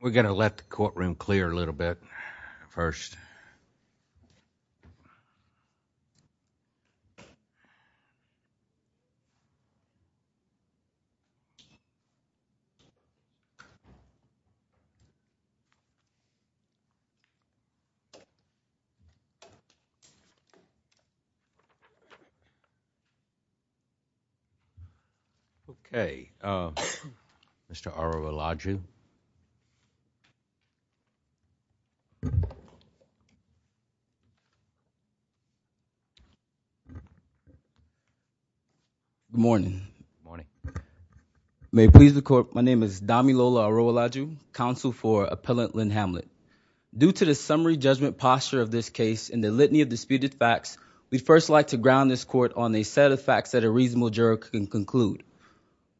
We're going to let the courtroom clear a little bit first. Okay, Mr. Arora-Laju Good morning, good morning. May it please the court, my name is Damilola Arora-Laju, counsel for Appellant Lynn Hamlet. Due to the summary judgment posture of this case and the litany of disputed facts, we'd first like to ground this court on a set of facts that a reasonable juror can conclude.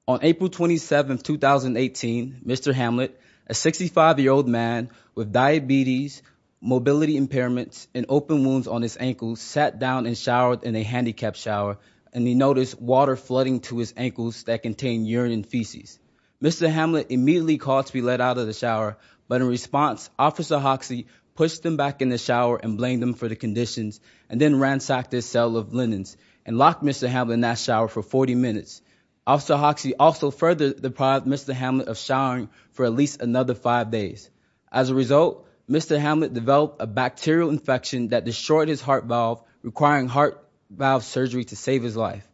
On April 27, 2018, Mr. Hamlet, a 65-year-old man with diabetes, mobility impairments, and open wounds on his ankles, sat down and showered in a handicapped shower, and he noticed water flooding to his ankles that contained urine and feces. Mr. Hamlet immediately called to be let out of the shower, but in response, Officer Hoxie pushed him back in the shower and blamed him for the conditions, and then ransacked his cell of linens, and locked Mr. Hamlet in that shower for 40 minutes. Officer Hoxie also further deprived Mr. Hamlet of showering for at least another five days. As a result, Mr. Hamlet developed a bacterial infection that destroyed his heart valve, requiring heart valve surgery to save his life.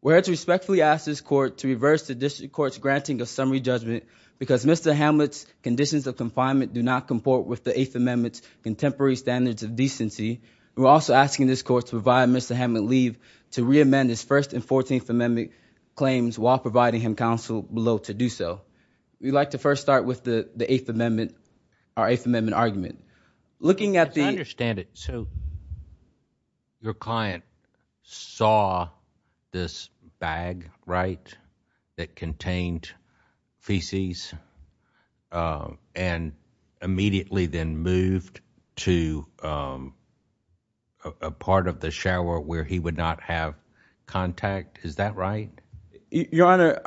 We're here to respectfully ask this court to reverse the district court's granting of summary judgment because Mr. Hamlet's conditions of confinement do not comport with the Eighth Amendment's contemporary standards of decency. We're also asking this court to provide Mr. Hamlet leave to reamend his First and Fourteenth Amendment claims while providing him counsel below to do so. We'd like to first start with the Eighth Amendment, our Eighth Amendment argument. I understand it. So your client saw this bag, right, that contained feces and immediately then moved to a part of the shower where he would not have contact. Is that right? Your Honor,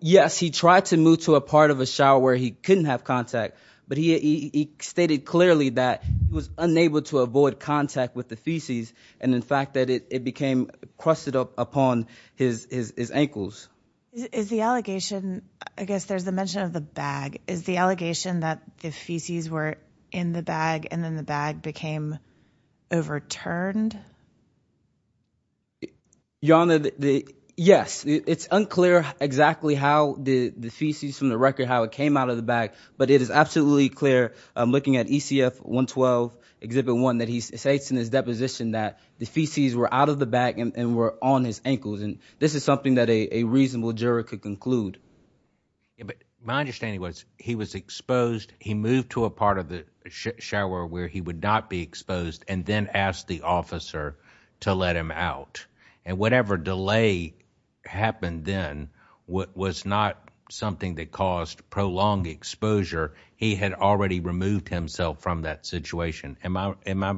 yes, he tried to move to a part of a shower where he couldn't have contact, but he stated clearly that he was unable to avoid contact with the feces, and in fact that it became crusted up upon his ankles. Is the allegation, I guess there's the mention of the bag, is the allegation that the feces were in the bag and then the bag became overturned? Your Honor, yes, it's unclear exactly how the feces from the record, how it came out of the bag, but it is absolutely clear looking at ECF 112, Exhibit 1, that he states in his deposition that the feces were out of the bag and were on his ankles, and this is something that a reasonable juror could conclude. My understanding was he was exposed, he moved to a part of the shower where he would not be exposed, and then asked the officer to let him out, and whatever delay happened then was not something that caused prolonged exposure. He had already removed himself from that situation. Am I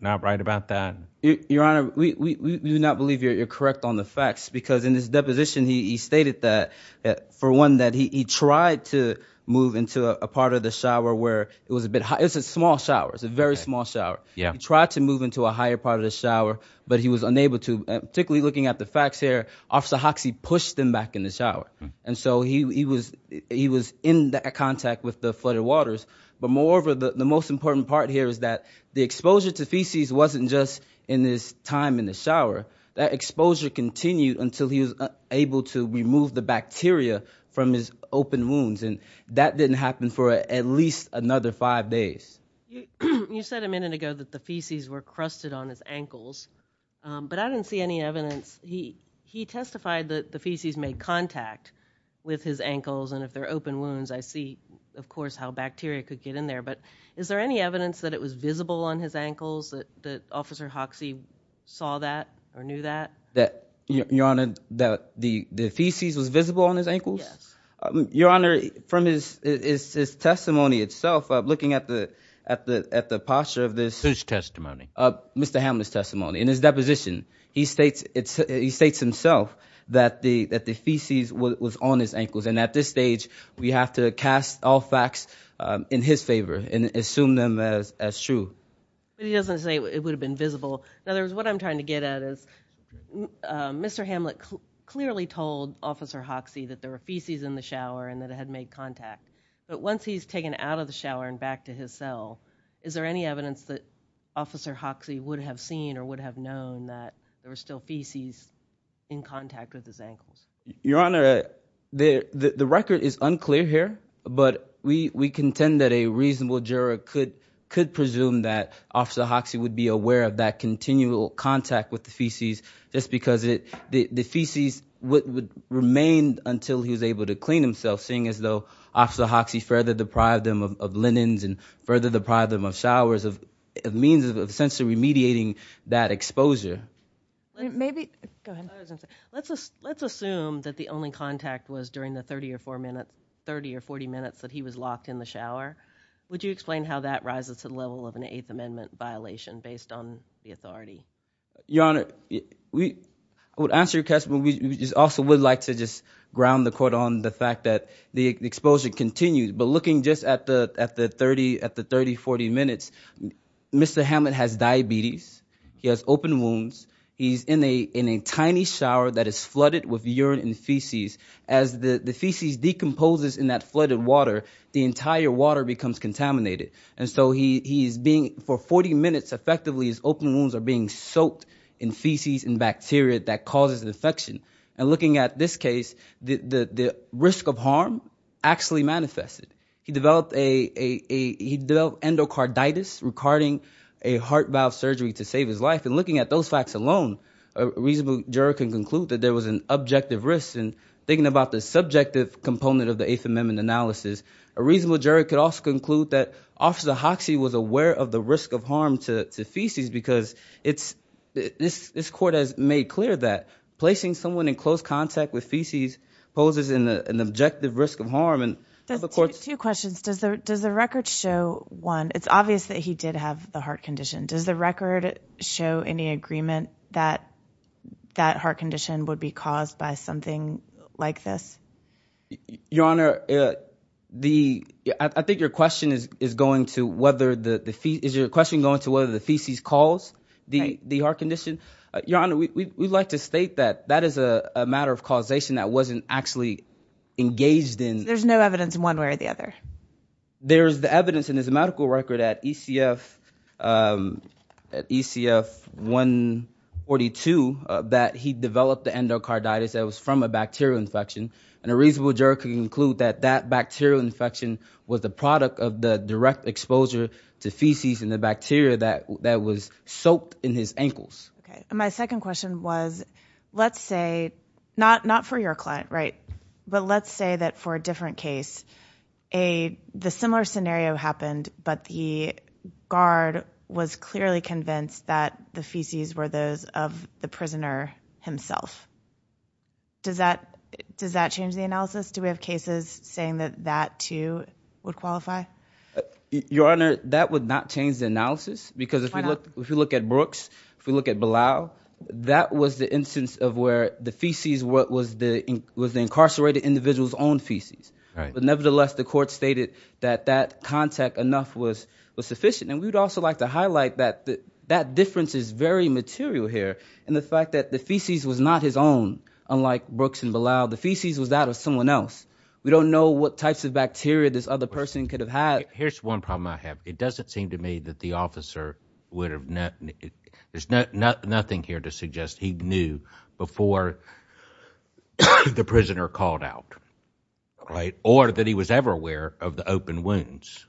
not right about that? Your Honor, we do not believe you're correct on the facts, because in his deposition he stated that, for one, that he tried to move into a part of the shower where it was a small shower, it was a very small shower. He tried to move into a higher part of the shower, but he was unable to. Particularly looking at the facts here, Officer Hoxie pushed him back in the shower, and so he was in contact with the flooded waters, but moreover, the most important part here is that the exposure to feces wasn't just in his time in the shower, that exposure continued until he was able to remove the bacteria from his open wounds, and that didn't happen for at least another five days. You said a minute ago that the feces were crusted on his ankles, but I didn't see any evidence. He testified that the feces made contact with his ankles, and if they're open wounds, I see, of course, how bacteria could get in there, but is there any evidence that it was visible on his ankles, that Officer Hoxie saw that or knew that? Your Honor, that the feces was visible on his ankles? Yes. Your Honor, from his testimony itself, looking at the posture of this... Whose testimony? Mr. Hamlet's testimony, in his deposition, he states himself that the feces was on his ankles, and at this stage we have to cast all facts in his favor and assume them as true. But he doesn't say it would have been visible. In other words, what I'm trying to get at is Mr. Hamlet clearly told Officer Hoxie that there were feces in the shower and that it had made contact, but once he's taken out of the shower and back to his cell, is there any evidence that Officer Hoxie would have seen or would have known that there were still feces in contact with his ankles? Your Honor, the record is unclear here, but we contend that a reasonable juror could presume that Officer Hoxie would be aware of that continual contact with the feces just because the feces would remain until he was able to clean himself, seeing as though Officer Hoxie further deprived him of linens and further deprived him of showers, a means of essentially remediating that exposure. Let's assume that the only contact was during the 30 or 40 minutes that he was locked in the shower. Would you explain how that rises to the level of an Eighth Amendment violation based on the authority? Your Honor, I would answer your question, but we also would like to just ground the court on the fact that the exposure continues. But looking just at the 30, 40 minutes, Mr. Hamlet has diabetes, he has open wounds, he's in a tiny shower that is flooded with urine and feces. As the feces decomposes in that flooded water, the entire water becomes contaminated. And so for 40 minutes, effectively, his open wounds are being soaked in feces and bacteria that causes infection. And looking at this case, the risk of harm actually manifested. He developed endocarditis, requiring a heart valve surgery to save his life. And looking at those facts alone, a reasonable juror can conclude that there was an objective risk. And thinking about the subjective component of the Eighth Amendment analysis, a reasonable juror could also conclude that Officer Hoxie was aware of the risk of harm to feces because this court has made clear that placing someone in close contact with feces poses an objective risk of harm. Two questions. Does the record show, one, it's obvious that he did have the heart condition. Does the record show any agreement that that heart condition would be caused by something like this? Your Honor, I think your question is going to whether the feces cause the heart condition. Your Honor, we'd like to state that that is a matter of causation that wasn't actually engaged in. There's no evidence in one way or the other? There's the evidence in his medical record at ECF 142 that he developed the endocarditis that was from a bacterial infection. And a reasonable juror can conclude that that bacterial infection was the product of the direct exposure to feces and the bacteria that was soaked in his ankles. My second question was, let's say, not for your client, right, but let's say that for a different case, a similar scenario happened, but the guard was clearly convinced that the feces were those of the prisoner himself. Does that change the analysis? Do we have cases saying that that, too, would qualify? Your Honor, that would not change the analysis because if you look at Brooks, if you look at Bilal, that was the instance of where the feces was the incarcerated individual's own feces. But nevertheless, the court stated that that contact enough was sufficient. And we'd also like to highlight that that difference is very material here. And the fact that the feces was not his own, unlike Brooks and Bilal, the feces was that of someone else. We don't know what types of bacteria this other person could have had. Here's one problem I have. It doesn't seem to me that the officer would have—there's nothing here to suggest he knew before the prisoner called out, right, or that he was ever aware of the open wounds.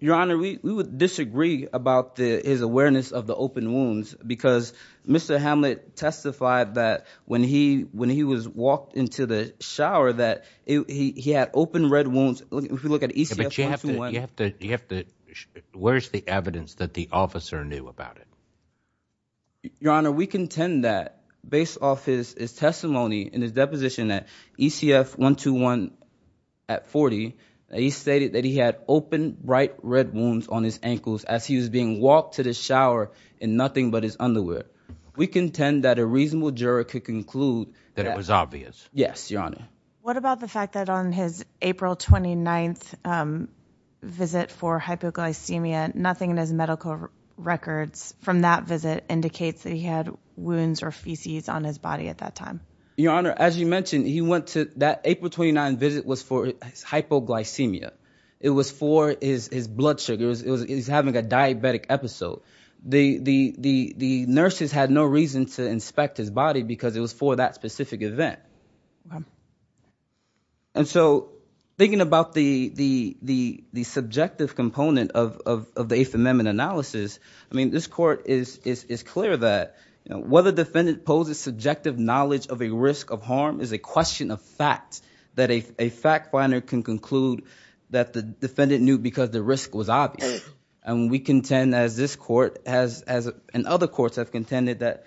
Your Honor, we would disagree about his awareness of the open wounds because Mr. Hamlet testified that when he was walked into the shower that he had open red wounds. But you have to—where's the evidence that the officer knew about it? Your Honor, we contend that based off his testimony and his deposition at ECF 121 at 40, he stated that he had open, bright red wounds on his ankles as he was being walked to the shower in nothing but his underwear. We contend that a reasonable juror could conclude— That it was obvious. Yes, Your Honor. What about the fact that on his April 29th visit for hypoglycemia, nothing in his medical records from that visit indicates that he had wounds or feces on his body at that time? Your Honor, as you mentioned, he went to—that April 29th visit was for hypoglycemia. It was for his blood sugar. He was having a diabetic episode. The nurses had no reason to inspect his body because it was for that specific event. And so, thinking about the subjective component of the Eighth Amendment analysis, I mean, this court is clear that whether defendant poses subjective knowledge of a risk of harm is a question of fact. That a fact finder can conclude that the defendant knew because the risk was obvious. And we contend, as this court has—and other courts have contended that,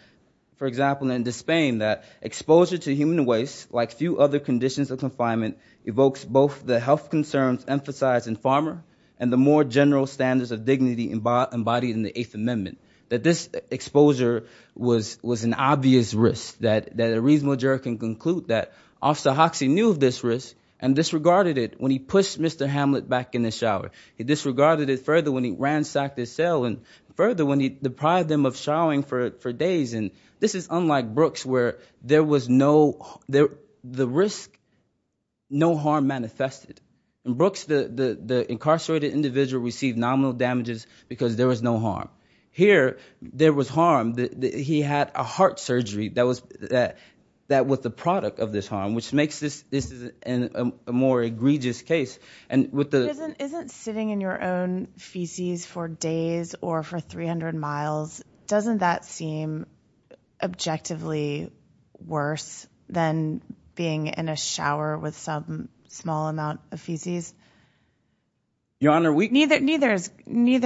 for example, in Despain, that exposure to human waste, like few other conditions of confinement, evokes both the health concerns emphasized in Farmer and the more general standards of dignity embodied in the Eighth Amendment. That this exposure was an obvious risk. That a reasonable juror can conclude that Officer Hoxie knew of this risk and disregarded it when he pushed Mr. Hamlet back in the shower. He disregarded it further when he ransacked his cell and further when he deprived him of showering for days. And this is unlike Brooks, where there was no—the risk, no harm manifested. In Brooks, the incarcerated individual received nominal damages because there was no harm. Here, there was harm. He had a heart surgery that was the product of this harm, which makes this a more egregious case. Isn't sitting in your own feces for days or for 300 miles, doesn't that seem objectively worse than being in a shower with some small amount of feces? Your Honor, we— Neither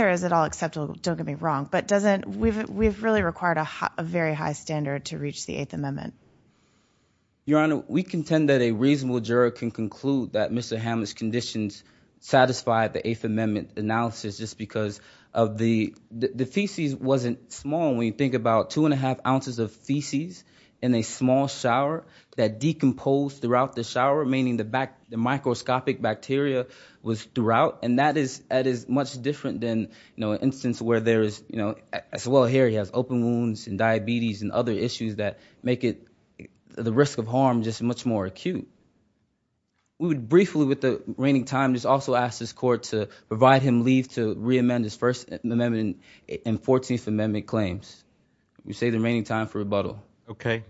is at all acceptable. Don't get me wrong. But doesn't—we've really required a very high standard to reach the Eighth Amendment. Your Honor, we contend that a reasonable juror can conclude that Mr. Hamlet's conditions satisfied the Eighth Amendment analysis just because of the—the feces wasn't small. When you think about two and a half ounces of feces in a small shower that decomposed throughout the shower, meaning the microscopic bacteria was throughout, and that is much different than, you know, as well here, he has open wounds and diabetes and other issues that make it—the risk of harm just much more acute. We would briefly, with the reigning time, just also ask this Court to provide him leave to reamend his First Amendment and Fourteenth Amendment claims. We say the reigning time for rebuttal. Okay.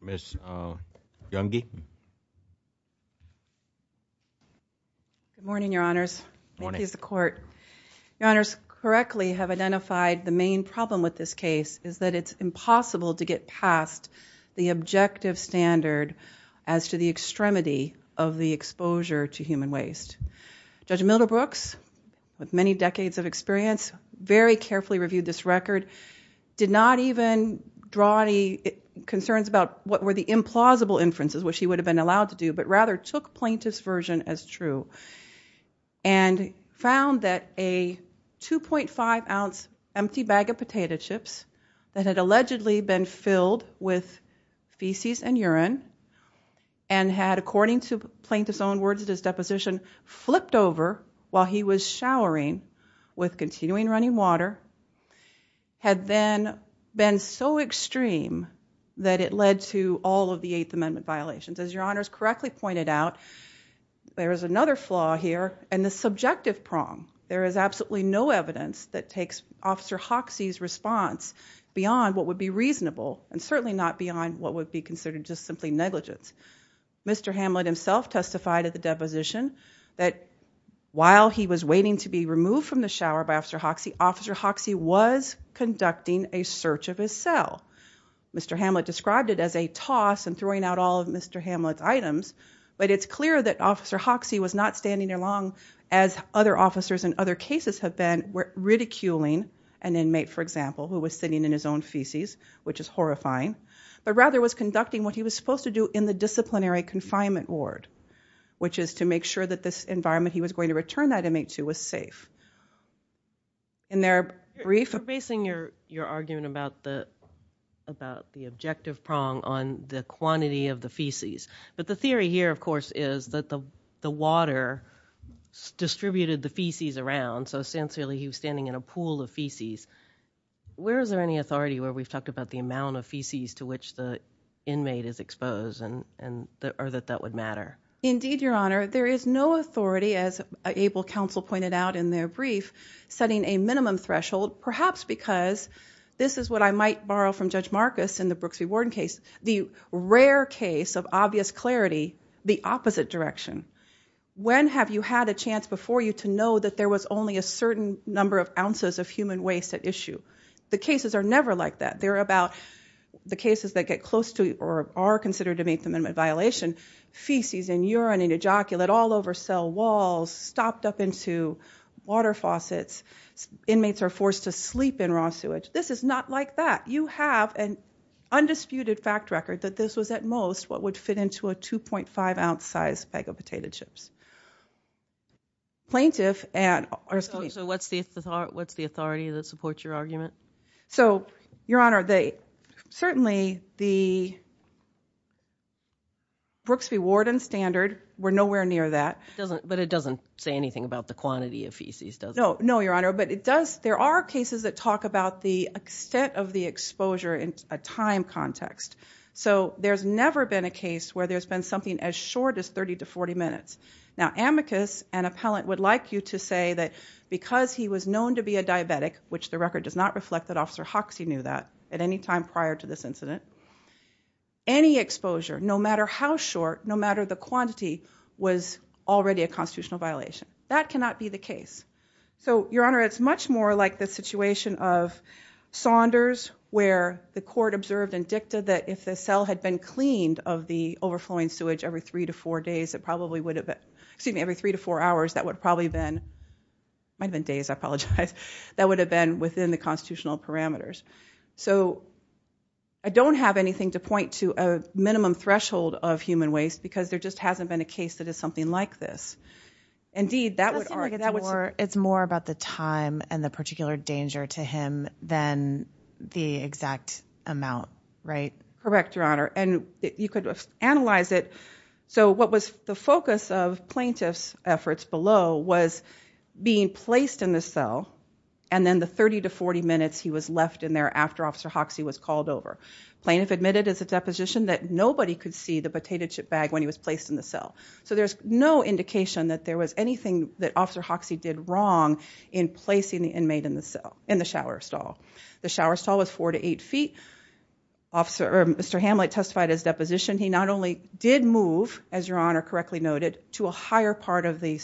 Ms. Youngi? Good morning, Your Honors. Good morning. Thank you, Mr. Court. Your Honors, correctly have identified the main problem with this case is that it's impossible to get past the objective standard as to the extremity of the exposure to human waste. Judge Milderbrooks, with many decades of experience, very carefully reviewed this record, did not even draw any concerns about what were the implausible inferences, which he would have been allowed to do, but rather took Plaintiff's version as true and found that a 2.5-ounce empty bag of potato chips that had allegedly been filled with feces and urine and had, according to Plaintiff's own words at his deposition, flipped over while he was showering with continuing running water, had then been so extreme that it led to all of the Eighth Amendment violations. As Your Honors correctly pointed out, there is another flaw here in the subjective prong. There is absolutely no evidence that takes Officer Hoxie's response beyond what would be reasonable and certainly not beyond what would be considered just simply negligence. Mr. Hamlet himself testified at the deposition that while he was waiting to be removed from the shower by Officer Hoxie, Officer Hoxie was conducting a search of his cell. Mr. Hamlet described it as a toss and throwing out all of Mr. Hamlet's items, but it's clear that Officer Hoxie was not standing along, as other officers in other cases have been, ridiculing an inmate, for example, who was sitting in his own feces, which is horrifying, but rather was conducting what he was supposed to do in the disciplinary confinement ward, which is to make sure that this environment he was going to return that inmate to was safe. In their brief... You're basing your argument about the objective prong on the quantity of the feces, but the theory here, of course, is that the water distributed the feces around, so essentially he was standing in a pool of feces. Where is there any authority where we've talked about the amount of feces to which the inmate is exposed or that that would matter? Indeed, Your Honor, there is no authority, as Abel Counsel pointed out in their brief, setting a minimum threshold, perhaps because this is what I might borrow from Judge Marcus in the Brooks v. Warden case, the rare case of obvious clarity, the opposite direction. When have you had a chance before you to know that there was only a certain number of ounces of human waste at issue? The cases are never like that. They're about the cases that get close to or are considered to meet the minimum violation, feces and urine and ejaculate all over cell walls, stopped up into water faucets. Inmates are forced to sleep in raw sewage. This is not like that. You have an undisputed fact record that this was at most what would fit into a 2.5-ounce-sized bag of potato chips. Plaintiff and... So what's the authority that supports your argument? So, Your Honor, certainly the Brooks v. Warden standard, we're nowhere near that. But it doesn't say anything about the quantity of feces, does it? No, Your Honor, but there are cases that talk about the extent of the exposure in a time context. So there's never been a case where there's been something as short as 30 to 40 minutes. Now, amicus and appellant would like you to say that because he was known to be a diabetic, which the record does not reflect that Officer Hoxie knew that at any time prior to this incident. Any exposure, no matter how short, no matter the quantity, was already a constitutional violation. That cannot be the case. So, Your Honor, it's much more like the situation of Saunders where the court observed and dictated that if the cell had been cleaned of the overflowing sewage every three to four days, it probably would have been... Excuse me, every three to four hours, that would probably have been... Might have been days, I apologize. That would have been within the constitutional parameters. So I don't have anything to point to a minimum threshold of human waste because there just hasn't been a case that is something like this. Indeed, that would argue... It's more about the time and the particular danger to him than the exact amount, right? Correct, Your Honor, and you could analyze it. So what was the focus of plaintiff's efforts below was being placed in the cell and then the 30 to 40 minutes he was left in there after Officer Hoxie was called over. Plaintiff admitted as a deposition that nobody could see the potato chip bag when he was placed in the cell. So there's no indication that there was anything that Officer Hoxie did wrong in placing the inmate in the cell, in the shower stall. The shower stall was four to eight feet. Mr. Hamlet testified as deposition. He not only did move, as Your Honor correctly noted, to a higher part of the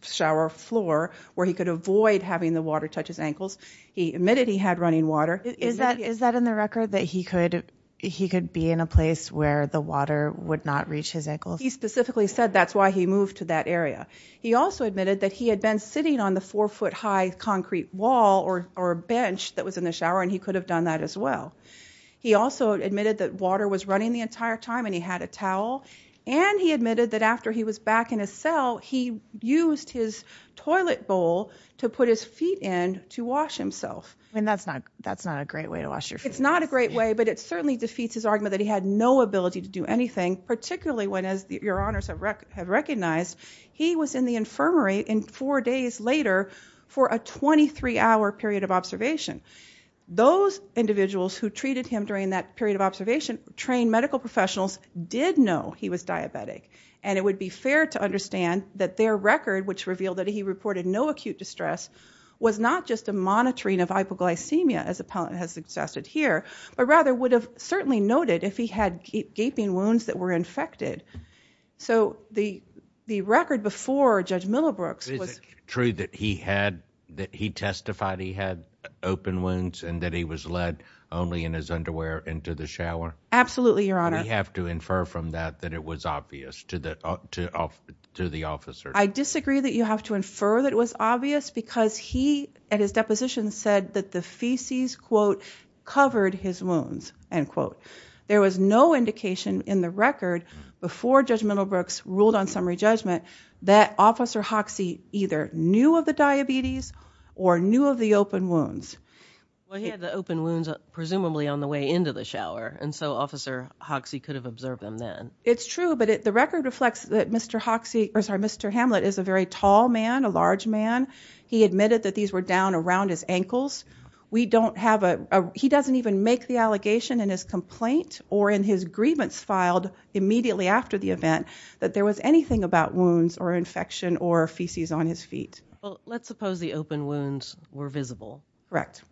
shower floor where he could avoid having the water touch his ankles. He admitted he had running water. Is that in the record that he could be in a place where the water would not reach his ankles? He specifically said that's why he moved to that area. He also admitted that he had been sitting on the four-foot-high concrete wall or a bench that was in the shower and he could have done that as well. He also admitted that water was running the entire time and he had a towel. And he admitted that after he was back in his cell, he used his toilet bowl to put his feet in to wash himself. That's not a great way to wash your feet. It's not a great way, but it certainly defeats his argument that he had no ability to do anything, particularly when, as Your Honors have recognized, he was in the infirmary four days later for a 23-hour period of observation. Those individuals who treated him during that period of observation, trained medical professionals, did know he was diabetic. And it would be fair to understand that their record, which revealed that he reported no acute distress, was not just a monitoring of hypoglycemia, as the appellant has suggested here, but rather would have certainly noted if he had gaping wounds that were infected. So the record before Judge Millibrooks was... I disagree that he testified he had open wounds and that he was led only in his underwear into the shower. Absolutely, Your Honor. We have to infer from that that it was obvious to the officer. I disagree that you have to infer that it was obvious because he, at his deposition, said that the feces, quote, covered his wounds, end quote. There was no indication in the record before Judge Millibrooks ruled on summary judgment that Officer Hoxie either knew of the diabetes or knew of the open wounds. Well, he had the open wounds presumably on the way into the shower, and so Officer Hoxie could have observed them then. It's true, but the record reflects that Mr. Hamlet is a very tall man, a large man. He admitted that these were down around his ankles. He doesn't even make the allegation in his complaint or in his grievance filed immediately after the event that there was anything about wounds or infection or feces on his feet. Well, let's suppose the open wounds were visible. Correct.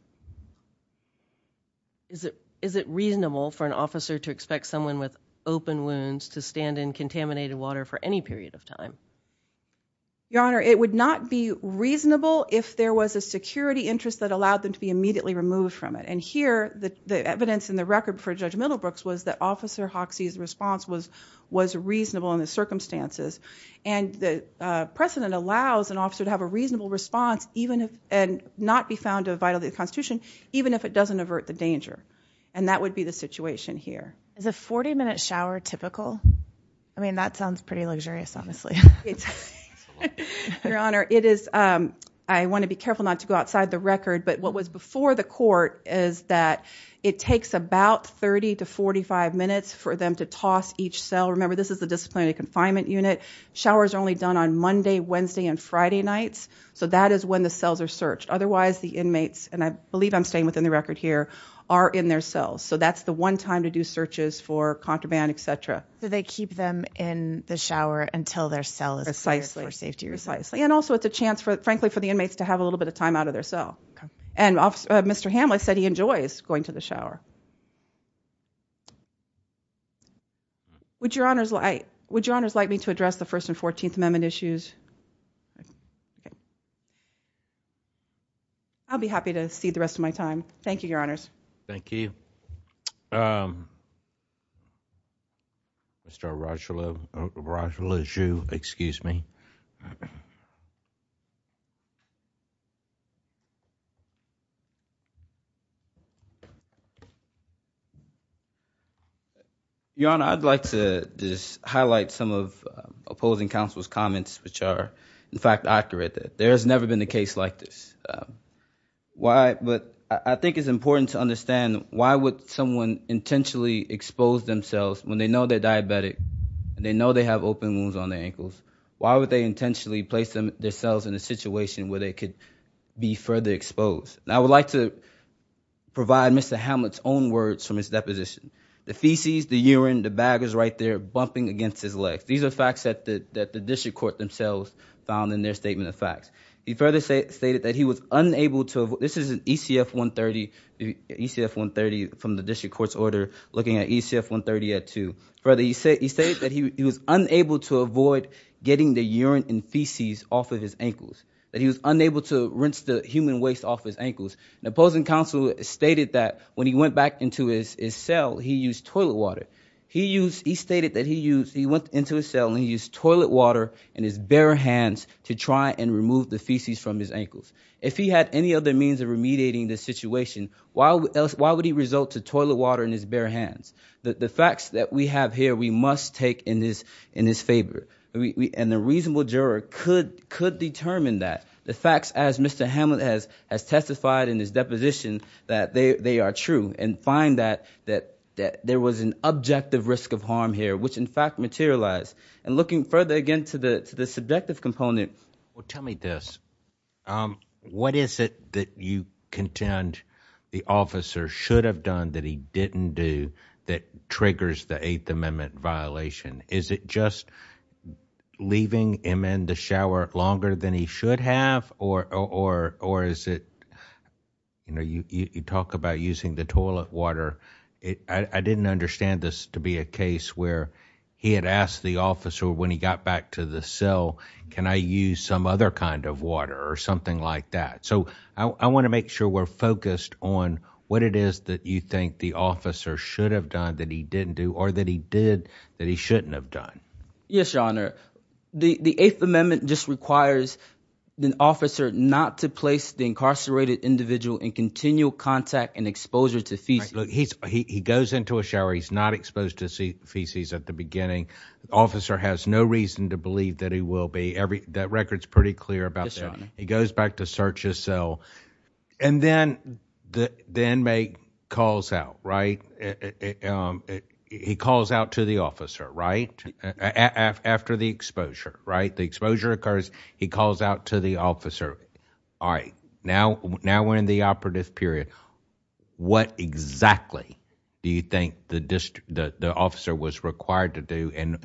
Is it reasonable for an officer to expect someone with open wounds to stand in contaminated water for any period of time? Your Honor, it would not be reasonable if there was a security interest that allowed them to be immediately removed from it, and here the evidence in the record before Judge Millibrooks was that Officer Hoxie's response was reasonable in the circumstances, and the precedent allows an officer to have a reasonable response and not be found to have violated the Constitution even if it doesn't avert the danger, and that would be the situation here. Is a 40-minute shower typical? I mean, that sounds pretty luxurious, honestly. Your Honor, I want to be careful not to go outside the record, but what was before the court is that it takes about 30 to 45 minutes for them to toss each cell. Remember, this is the disciplinary confinement unit. Showers are only done on Monday, Wednesday, and Friday nights, so that is when the cells are searched. Otherwise, the inmates, and I believe I'm staying within the record here, are in their cells, so that's the one time to do searches for contraband, etc. So they keep them in the shower until their cell is cleared for safety reasons. Precisely, and also it's a chance, frankly, for the inmates to have a little bit of time out of their cell. And Mr. Hamlet said he enjoys going to the shower. Would Your Honors like me to address the First and Fourteenth Amendment issues? I'll be happy to cede the rest of my time. Thank you, Your Honors. Thank you. Mr. Rajalu, excuse me. Your Honor, I'd like to just highlight some of opposing counsel's comments, which are, in fact, accurate. There has never been a case like this. But I think it's important to understand why would someone intentionally expose themselves when they know they're diabetic, and they know they have open wounds on their ankles, why would they intentionally place themselves in a situation where they could be further exposed? And I would like to provide Mr. Hamlet's own words from his deposition. The feces, the urine, the bag is right there bumping against his legs. These are facts that the district court themselves found in their statement of facts. He further stated that he was unable to avoid, this is an ECF-130, ECF-130 from the district court's order looking at ECF-130-2. He stated that he was unable to avoid getting the urine and feces off of his ankles, that he was unable to rinse the human waste off his ankles. And opposing counsel stated that when he went back into his cell, he used toilet water. He stated that he went into his cell and he used toilet water in his bare hands to try and remove the feces from his ankles. If he had any other means of remediating this situation, why would he result to toilet water in his bare hands? The facts that we have here we must take in his favor, and a reasonable juror could determine that. The facts, as Mr. Hamlet has testified in his deposition, that they are true, and find that there was an objective risk of harm here, which in fact materialized. And looking further again to the subjective component. Well, tell me this. What is it that you contend the officer should have done that he didn't do that triggers the Eighth Amendment violation? Is it just leaving him in the shower longer than he should have? Or is it, you know, you talk about using the toilet water. I didn't understand this to be a case where he had asked the officer when he got back to the cell, can I use some other kind of water or something like that. So I want to make sure we're focused on what it is that you think the officer should have done that he didn't do or that he did that he shouldn't have done. Yes, Your Honor. The Eighth Amendment just requires the officer not to place the incarcerated individual in continual contact and exposure to feces. He goes into a shower. He's not exposed to feces at the beginning. The officer has no reason to believe that he will be. That record's pretty clear about that. He goes back to search his cell. And then the inmate calls out, right? He calls out to the officer, right, after the exposure, right? The exposure occurs. He calls out to the officer. All right, now we're in the operative period. What exactly do you think the officer was required to do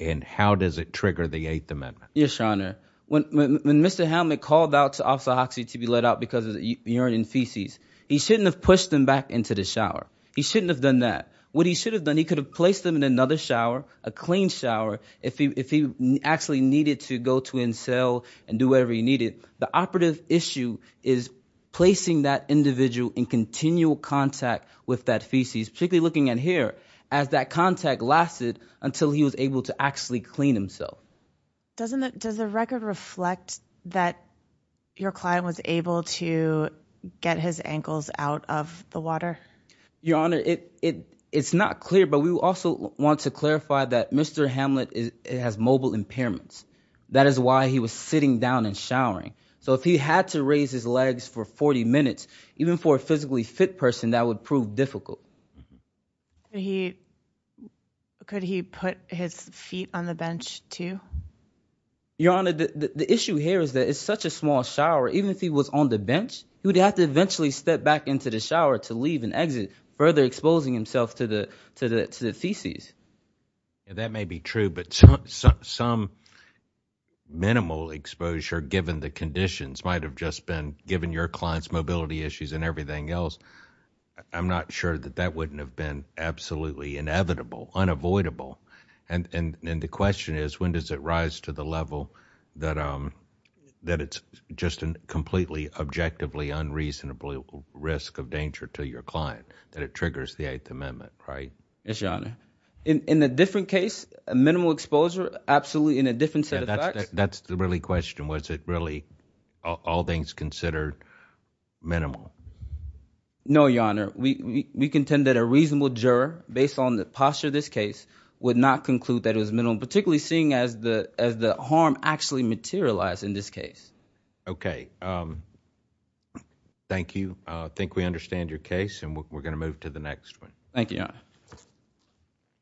and how does it trigger the Eighth Amendment? Yes, Your Honor. When Mr. Hammack called out to Officer Hoxie to be let out because of urine and feces, he shouldn't have pushed him back into the shower. He shouldn't have done that. What he should have done, he could have placed him in another shower, a clean shower, if he actually needed to go to his cell and do whatever he needed. The operative issue is placing that individual in continual contact with that feces, particularly looking at here, as that contact lasted until he was able to actually clean himself. Does the record reflect that your client was able to get his ankles out of the water? Your Honor, it's not clear, but we also want to clarify that Mr. Hamlet has mobile impairments. That is why he was sitting down and showering. So if he had to raise his legs for 40 minutes, even for a physically fit person, that would prove difficult. Could he put his feet on the bench, too? Your Honor, the issue here is that it's such a small shower, even if he was on the bench, he would have to eventually step back into the shower to leave and exit, further exposing himself to the feces. That may be true, but some minimal exposure, given the conditions, might have just been, given your client's mobility issues and everything else, I'm not sure that that wouldn't have been absolutely inevitable, unavoidable. And the question is, when does it rise to the level that it's just a completely objectively unreasonable risk of danger to your client, that it triggers the Eighth Amendment, right? Yes, Your Honor. In a different case, minimal exposure, absolutely in a different set of facts. That's the really question. Was it really all things considered minimal? No, Your Honor. We contend that a reasonable juror, based on the posture of this case, would not conclude that it was minimal, particularly seeing as the harm actually materialized in this case. Okay. Thank you. I think we understand your case, and we're going to move to the next one. Thank you, Your Honor.